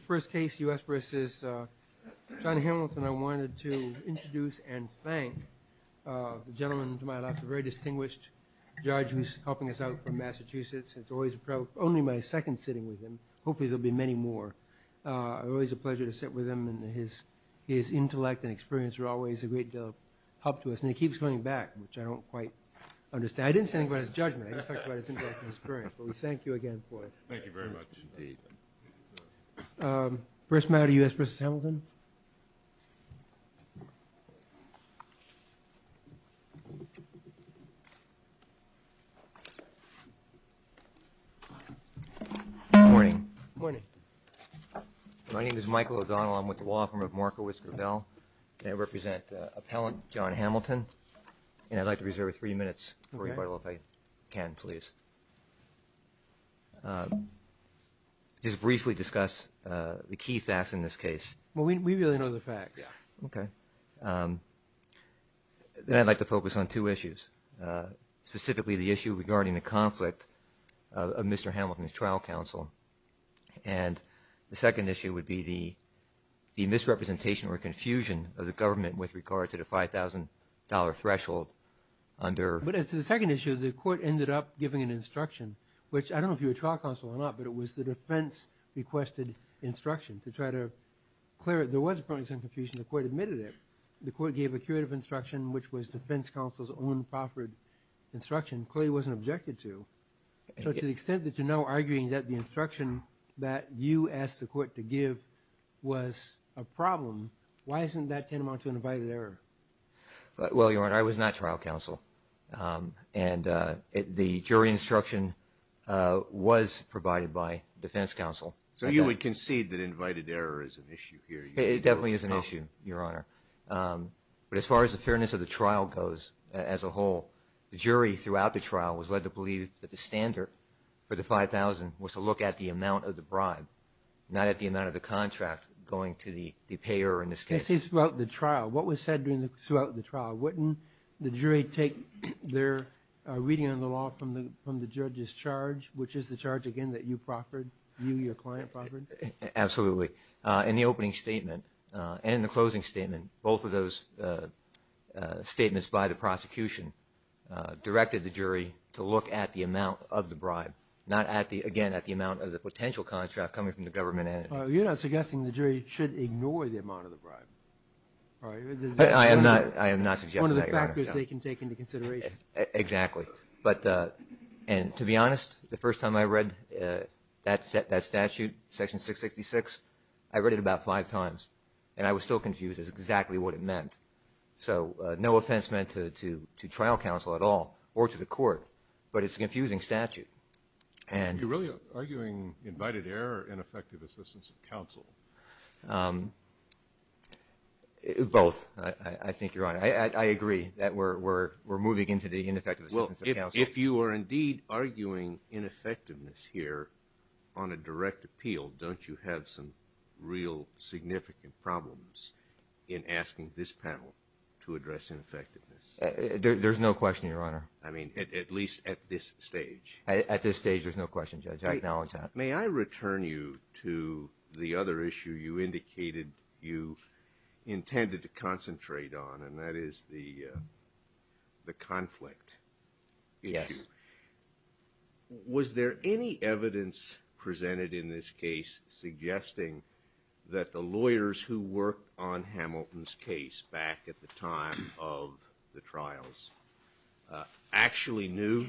First case, U.S. v. John Hamilton. I wanted to introduce and thank the gentleman to my left, a very distinguished judge who's helping us out from Massachusetts. It's only my second sitting with him. Hopefully there'll be many more. Always a pleasure to sit with him. His intellect and experience are always a great deal of help to us, and he keeps coming back, which I don't quite understand. I didn't say anything about his judgment. I just talked about his intellectual experience. But we thank you again for it. Thank you very much indeed. First matter, U.S. v. Hamilton. Good morning. My name is Michael O'Donnell. I'm with the law firm of Marco Whisker Bell. I represent Appellant John Hamilton, and I'd like to reserve three minutes for rebuttal if I can, please. Just briefly discuss the key facts in this case. Well, we really know the facts. Okay. Then I'd like to focus on two issues, specifically the issue regarding the conflict of Mr. Hamilton's trial counsel. And the second issue would be the misrepresentation or confusion of the government with regard to the $5,000 threshold under... But as to the second issue, the court ended up giving an instruction, which I don't know if you were trial counsel or not, but it was the defense requested instruction to try to clear it. There was probably some confusion. The court admitted it. The court gave a curative instruction, which was defense counsel's own proffered instruction. It clearly wasn't objected to. So to the extent that you're now arguing that the instruction that you asked the court to give was a problem, why isn't that tantamount to an invited error? Well, Your Honor, I was not trial counsel, and the jury instruction was provided by defense counsel. So you would concede that invited error is an issue here? It definitely is an issue, Your Honor. But as far as the fairness of the trial goes as a whole, the jury throughout the trial was led to believe that the standard for the $5,000 was to look at the amount of the bribe, not at the amount of the contract going to the payer in this case. Throughout the trial, what was said throughout the trial? Wouldn't the jury take their reading of the law from the judge's charge, which is the charge, again, that you proffered, you, your client proffered? Absolutely. In the opening statement and the closing statement, both of those statements by the prosecution directed the jury to look at the amount of the bribe, not at the, again, at the amount of the potential contract coming from the government entity. You're not suggesting the jury should ignore the amount of the bribe, right? I am not suggesting that, Your Honor. One of the factors they can take into consideration. Exactly. And to be honest, the first time I read that statute, Section 666, I read it about five times, and I was still confused as to exactly what it meant. So no offense meant to trial counsel at all or to the court, but it's a confusing statute. Are you really arguing invited error or ineffective assistance of counsel? Both, I think, Your Honor. I agree that we're moving into the ineffective assistance of counsel. Well, if you are indeed arguing ineffectiveness here on a direct appeal, don't you have some real significant problems in asking this panel to address ineffectiveness? There's no question, Your Honor. I mean, at least at this stage. At this stage, there's no question, Judge. I acknowledge that. May I return you to the other issue you indicated you intended to concentrate on, and that is the conflict issue? Yes. Was there any evidence presented in this case suggesting that the lawyers who worked on Hamilton's case back at the time of the trials actually knew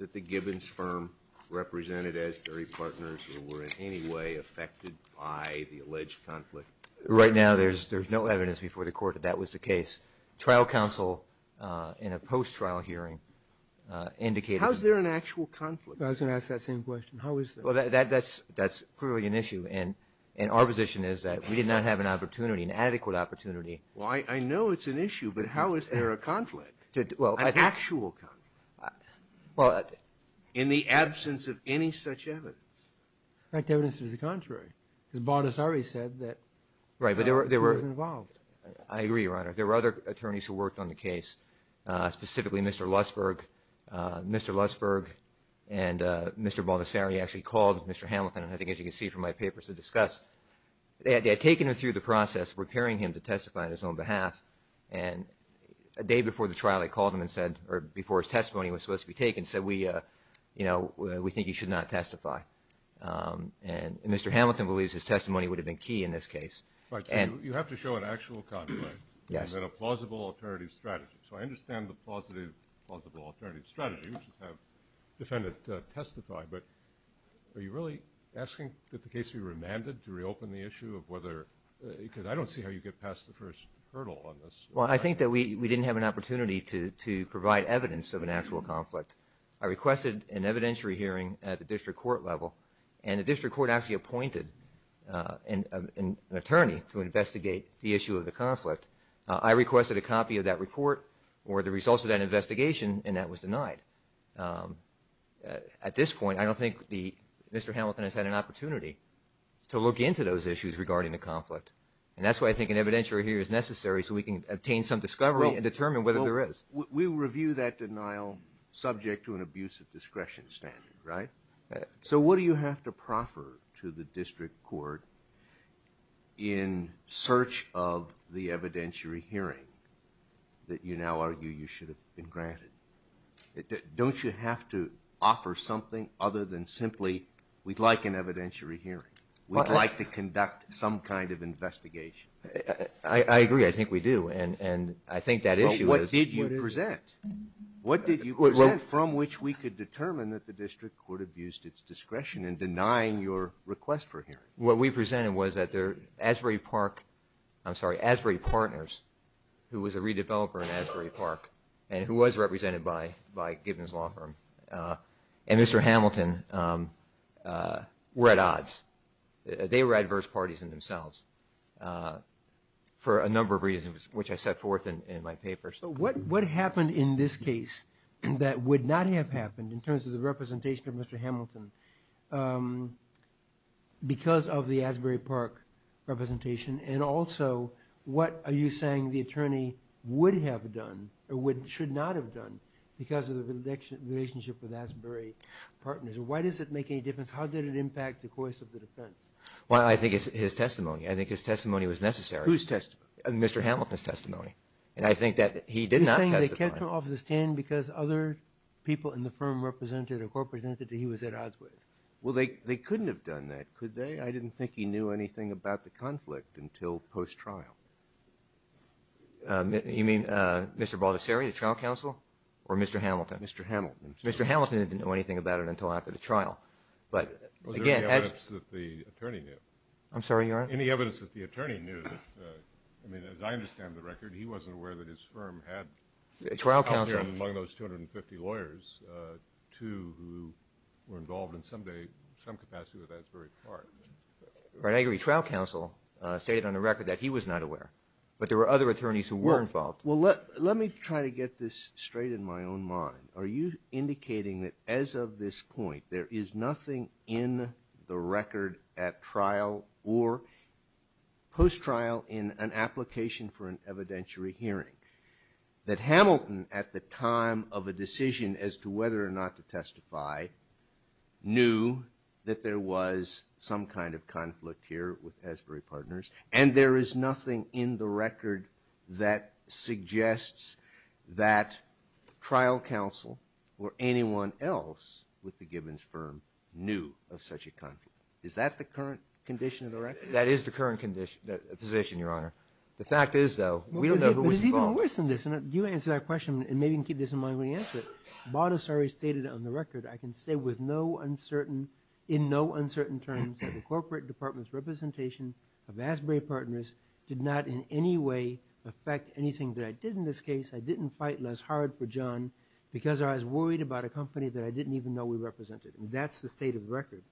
that the Gibbons firm represented Asbury Partners or were in any way affected by the alleged conflict? Right now, there's no evidence before the Court that that was the case. Trial counsel in a post-trial hearing indicated that. How is there an actual conflict? I was going to ask that same question. How is there? Well, that's clearly an issue, and our position is that we did not have an opportunity, an adequate opportunity. Well, I know it's an issue, but how is there a conflict, an actual conflict, in the absence of any such evidence? In fact, the evidence is the contrary, because Baldessari said that he wasn't involved. I agree, Your Honor. There were other attorneys who worked on the case, specifically Mr. Lutsberg. Mr. Lutsberg and Mr. Baldessari actually called Mr. Hamilton, and I think as you can see from my papers to discuss, they had taken him through the process of preparing him to testify on his own behalf. And the day before the trial, they called him and said, or before his testimony was supposed to be taken, said, we think he should not testify. And Mr. Hamilton believes his testimony would have been key in this case. Right. You have to show an actual conflict. Yes. And then a plausible alternative strategy. So I understand the plausible alternative strategy, which is have the defendant testify, but are you really asking that the case be remanded to reopen the issue of whether, because I don't see how you get past the first hurdle on this. Well, I think that we didn't have an opportunity to provide evidence of an actual conflict. I requested an evidentiary hearing at the district court level, and the district court actually appointed an attorney to investigate the issue of the conflict. I requested a copy of that report or the results of that investigation, and that was denied. At this point, I don't think Mr. Hamilton has had an opportunity to look into those issues regarding the conflict, and that's why I think an evidentiary hearing is necessary so we can obtain some discovery and determine whether there is. We review that denial subject to an abuse of discretion standard, right? So what do you have to proffer to the district court in search of the evidentiary hearing that you now argue you should have been granted? Don't you have to offer something other than simply we'd like an evidentiary hearing? We'd like to conduct some kind of investigation. I agree. I think we do, and I think that issue is. What did you present? What did you present from which we could determine that the district court abused its discretion in denying your request for hearing? What we presented was that the Asbury Park, I'm sorry, Asbury Partners, who was a redeveloper in Asbury Park and who was represented by Gibbons Law Firm, and Mr. Hamilton were at odds. They were adverse parties in themselves for a number of reasons, which I set forth in my papers. What happened in this case that would not have happened in terms of the representation of Mr. Hamilton because of the Asbury Park representation? And also, what are you saying the attorney would have done or should not have done because of the relationship with Asbury Partners? Why does it make any difference? How did it impact the course of the defense? Well, I think it's his testimony. I think his testimony was necessary. Whose testimony? Mr. Hamilton's testimony, and I think that he did not testify. Did he turn off the stand because other people in the firm represented or were represented, or he was at odds with? Well, they couldn't have done that, could they? I didn't think he knew anything about the conflict until post-trial. You mean Mr. Baldessari, the trial counsel, or Mr. Hamilton? Mr. Hamilton. Mr. Hamilton didn't know anything about it until after the trial. Was there any evidence that the attorney knew? I'm sorry, your Honor? Any evidence that the attorney knew? I mean, as I understand the record, he wasn't aware that his firm had a trial counsel. Out there among those 250 lawyers, two who were involved in some capacity with Asbury Partners. I agree. Trial counsel stated on the record that he was not aware, but there were other attorneys who were involved. Well, let me try to get this straight in my own mind. Are you indicating that as of this point there is nothing in the record at trial or post-trial in an application for an evidentiary hearing that Hamilton, at the time of a decision as to whether or not to testify, knew that there was some kind of conflict here with Asbury Partners, and there is nothing in the record that suggests that trial counsel or anyone else with the Gibbons firm knew of such a conflict? Is that the current condition of the record? That is the current position, your Honor. The fact is, though, we don't know who was involved. But it's even worse than this, and you answered that question, and maybe you can keep this in mind when you answer it. Baudissari stated on the record, I can say in no uncertain terms that the corporate department's representation of Asbury Partners did not in any way affect anything that I did in this case. I didn't fight less hard for John because I was worried about a company that I didn't even know we represented. That's the state of the record.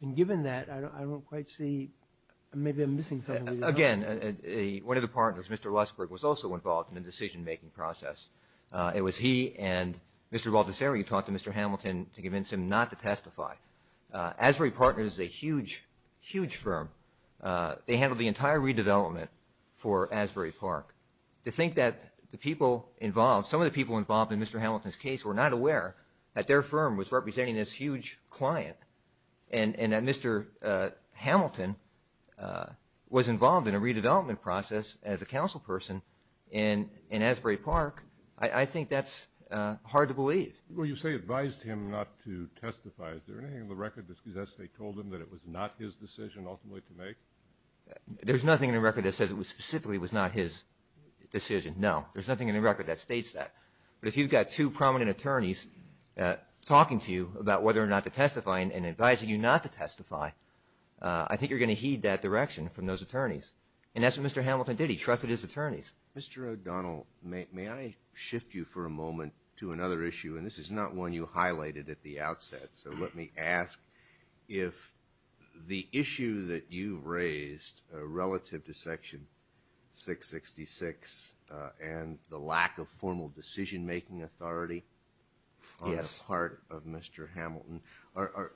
And given that, I don't quite see maybe I'm missing something. Again, one of the partners, Mr. Luskberg, was also involved in the decision-making process. It was he and Mr. Baudissari who talked to Mr. Hamilton to convince him not to testify. Asbury Partners is a huge, huge firm. They handled the entire redevelopment for Asbury Park. To think that the people involved, some of the people involved in Mr. Hamilton's case were not aware that their firm was representing this huge client and that Mr. Hamilton was involved in a redevelopment process as a councilperson in Asbury Park, I think that's hard to believe. Well, you say advised him not to testify. Is there anything in the record that says they told him that it was not his decision ultimately to make? There's nothing in the record that says it specifically was not his decision, no. There's nothing in the record that states that. But if you've got two prominent attorneys talking to you about whether or not to testify and advising you not to testify, I think you're going to heed that direction from those attorneys. And that's what Mr. Hamilton did. He trusted his attorneys. Mr. O'Donnell, may I shift you for a moment to another issue? And this is not one you highlighted at the outset. So let me ask if the issue that you raised relative to Section 666 and the lack of formal decision-making authority on the part of Mr. Hamilton, are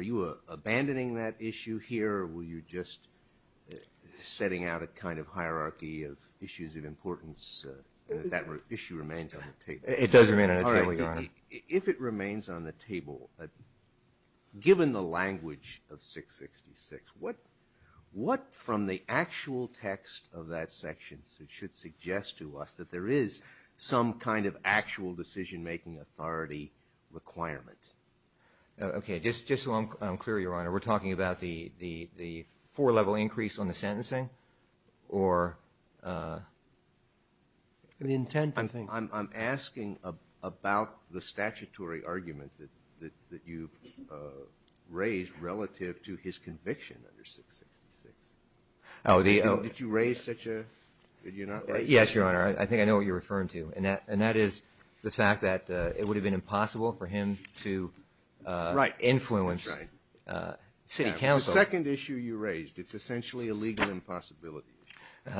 you abandoning that issue here or were you just setting out a kind of hierarchy of issues of importance? That issue remains on the table. If it remains on the table, given the language of 666, what from the actual text of that section should suggest to us that there is some kind of actual decision-making authority requirement? Okay. Just so I'm clear, Your Honor, we're talking about the four-level increase on the sentencing or the intent, I think? We're talking about the statutory argument that you've raised relative to his conviction under 666. Did you raise such a? Did you not raise such a? Yes, Your Honor. I think I know what you're referring to, and that is the fact that it would have been impossible for him to influence city council. Right. It's the second issue you raised. It's essentially a legal impossibility.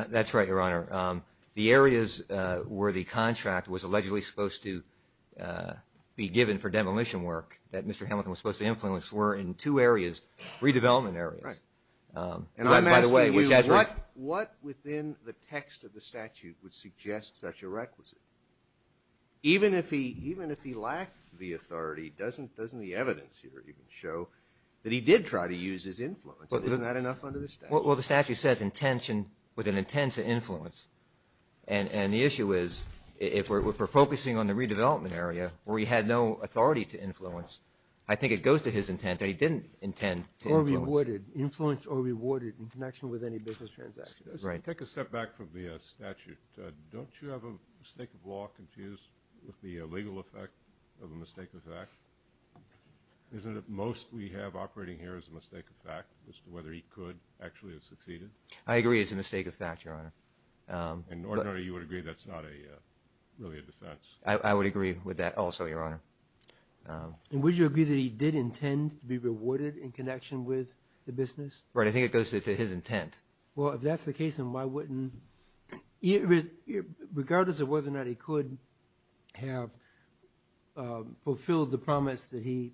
That's right, Your Honor. The areas where the contract was allegedly supposed to be given for demolition work that Mr. Hamilton was supposed to influence were in two areas, redevelopment areas. Right. And I'm asking you what within the text of the statute would suggest such a requisite? Even if he lacked the authority, doesn't the evidence here even show that he did try to use his influence? Isn't that enough under the statute? Well, the statute says intention with an intent to influence, and the issue is if we're focusing on the redevelopment area where he had no authority to influence, I think it goes to his intent that he didn't intend to influence. Or rewarded. Influenced or rewarded in connection with any business transactions. Right. Take a step back from the statute. Don't you have a mistake of law confused with the legal effect of a mistake of fact? Isn't it most we have operating here as a mistake of fact as to whether he could actually have succeeded? I agree it's a mistake of fact, Your Honor. And ordinarily you would agree that's not really a defense. I would agree with that also, Your Honor. And would you agree that he did intend to be rewarded in connection with the business? Right. I think it goes to his intent. Well, if that's the case, then why wouldn't he, regardless of whether or not he could have fulfilled the promise that he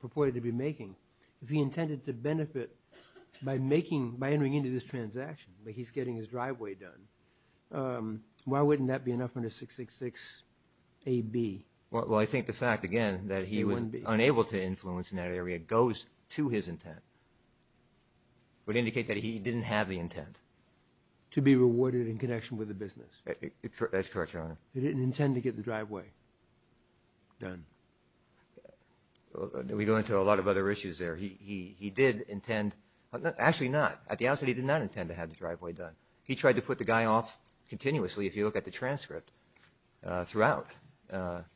purported to be making, if he intended to benefit by making, by entering into this transaction, like he's getting his driveway done, why wouldn't that be enough under 666AB? Well, I think the fact, again, that he was unable to influence in that area goes to his intent. It would indicate that he didn't have the intent. To be rewarded in connection with the business. That's correct, Your Honor. He didn't intend to get the driveway done. We go into a lot of other issues there. He did intend, actually not, at the outset he did not intend to have the driveway done. He tried to put the guy off continuously, if you look at the transcript, throughout,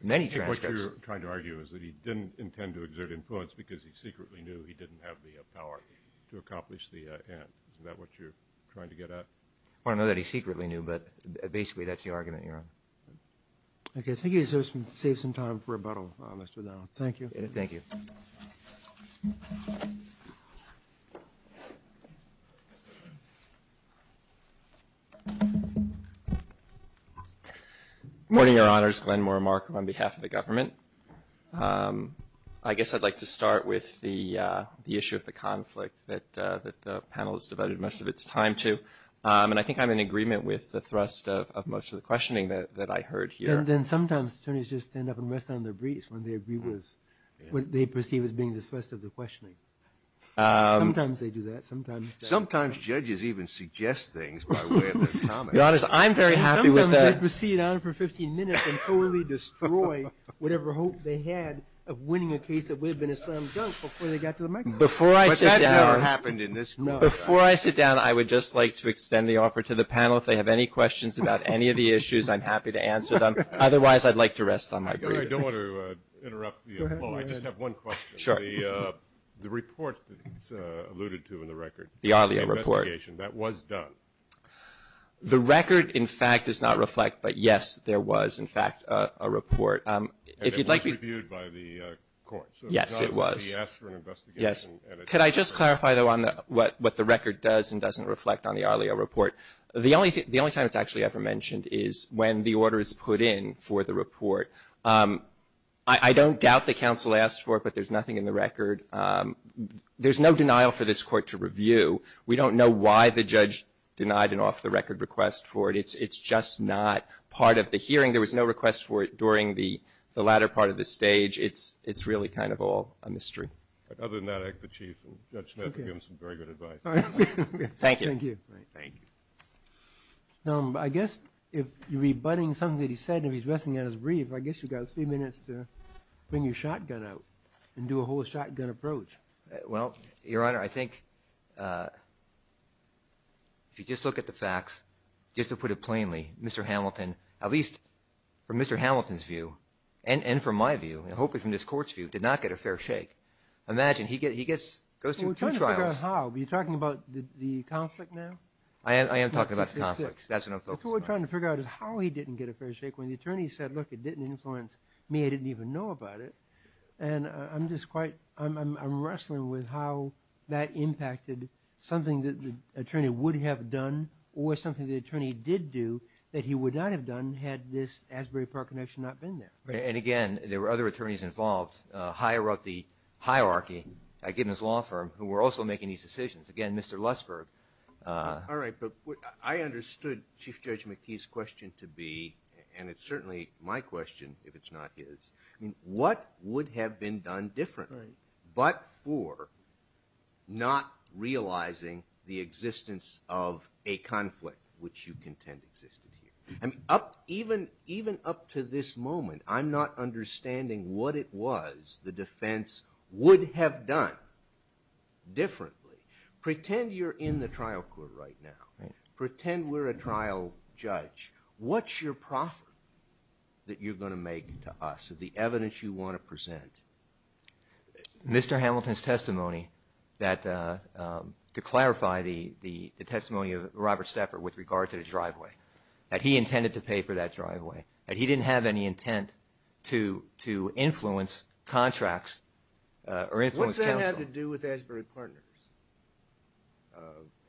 many transcripts. What you're trying to argue is that he didn't intend to exert influence because he secretly knew he didn't have the power to accomplish the end. Isn't that what you're trying to get at? Well, I know that he secretly knew, but basically that's the argument, Your Honor. Okay. I think it saves some time for rebuttal, Mr. O'Donnell. Thank you. Thank you. Good morning, Your Honors. Glenn Moore, Markham, on behalf of the government. I guess I'd like to start with the issue of the conflict that the panel has devoted most of its time to. And I think I'm in agreement with the thrust of most of the questioning that I heard here. Then sometimes attorneys just end up and rest on their briefs when they agree with what they perceive as being the thrust of the questioning. Sometimes they do that. Sometimes they don't. Sometimes judges even suggest things by way of their comments. Your Honor, I'm very happy with that. Sometimes they proceed on for 15 minutes and totally destroy whatever hope they had of winning a case that would have been a slam dunk before they got to the microphone. But that's never happened in this court. No. Before I sit down, I would just like to extend the offer to the panel. If they have any questions about any of the issues, I'm happy to answer them. Otherwise, I'd like to rest on my brief. I don't want to interrupt you. Go ahead. I just have one question. Sure. The report that's alluded to in the record, the investigation, that was done. The record, in fact, does not reflect. But, yes, there was, in fact, a report. And it was reviewed by the court. Yes, it was. So it's not that he asked for an investigation. Yes. Could I just clarify, though, what the record does and doesn't reflect on the earlier report? The only time it's actually ever mentioned is when the order is put in for the report. I don't doubt that counsel asked for it, but there's nothing in the record. There's no denial for this court to review. We don't know why the judge denied an off-the-record request for it. It's just not part of the hearing. There was no request for it during the latter part of the stage. It's really kind of all a mystery. Other than that, I'd like the Chief and Judge Snedeker to give him some very good advice. All right. Thank you. Thank you. Thank you. Now, I guess if you're rebutting something that he said and he's resting on his brief, I guess you've got a few minutes to bring your shotgun out and do a whole shotgun approach. Well, Your Honor, I think if you just look at the facts, just to put it plainly, Mr. Hamilton, at least from Mr. Hamilton's view and from my view and hopefully from this court's view, did not get a fair shake. Imagine, he goes through two trials. How? Are you talking about the conflict now? I am talking about the conflict. That's what I'm focused on. That's what we're trying to figure out is how he didn't get a fair shake when the attorney said, look, it didn't influence me. I didn't even know about it. And I'm wrestling with how that impacted something that the attorney would have done or something the attorney did do that he would not have done had this Asbury Park connection not been there. And, again, there were other attorneys involved. Haier wrote the hierarchy. I gave him his law firm who were also making these decisions. Again, Mr. Lussberg. All right. But I understood Chief Judge McTee's question to be, and it's certainly my question if it's not his, what would have been done differently but for not realizing the existence of a conflict, which you contend existed here? Even up to this moment, I'm not understanding what it was the defense would have done differently. Pretend you're in the trial court right now. Pretend we're a trial judge. What's your profit that you're going to make to us of the evidence you want to present? Mr. Hamilton's testimony that, to clarify, the testimony of Robert Steffer with regard to the driveway, that he intended to pay for that driveway, that he didn't have any intent to influence contracts or influence counsel. What's that have to do with Asbury Partners?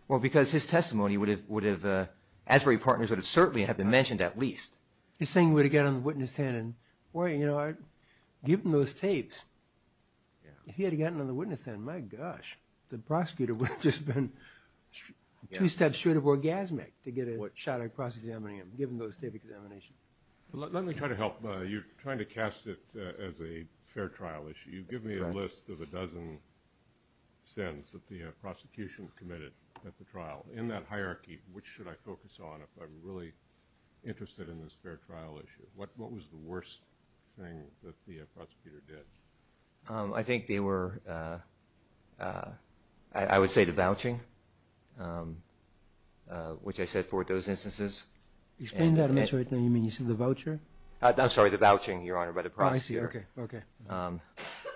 Well, because his testimony would have – Asbury Partners would certainly have been mentioned at least. He's saying we'd have gotten on the witness stand and, boy, you know, given those tapes, if he had gotten on the witness stand, my gosh, the prosecutor would have just been two steps short of orgasmic to get a shot at cross-examining him, given those tape examinations. Let me try to help. You're trying to cast it as a fair trial issue. You've given me a list of a dozen sins that the prosecution committed at the trial. In that hierarchy, which should I focus on if I'm really interested in this fair trial issue? What was the worst thing that the prosecutor did? I think they were – I would say the vouching, which I said for those instances. Explain that. I'm sorry. You mean you said the voucher? I'm sorry, the vouching, Your Honor, by the prosecutor. Oh, I see. Okay.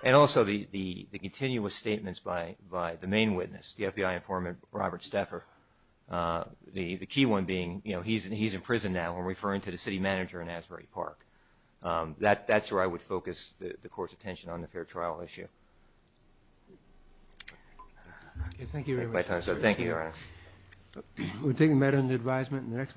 And also the continuous statements by the main witness, the FBI informant Robert Steffer, the key one being, you know, he's in prison now. I'm referring to the city manager in Asbury Park. That's where I would focus the court's attention on the fair trial issue. Thank you very much. Thank you, Your Honor. We'll take a minute on the advisement.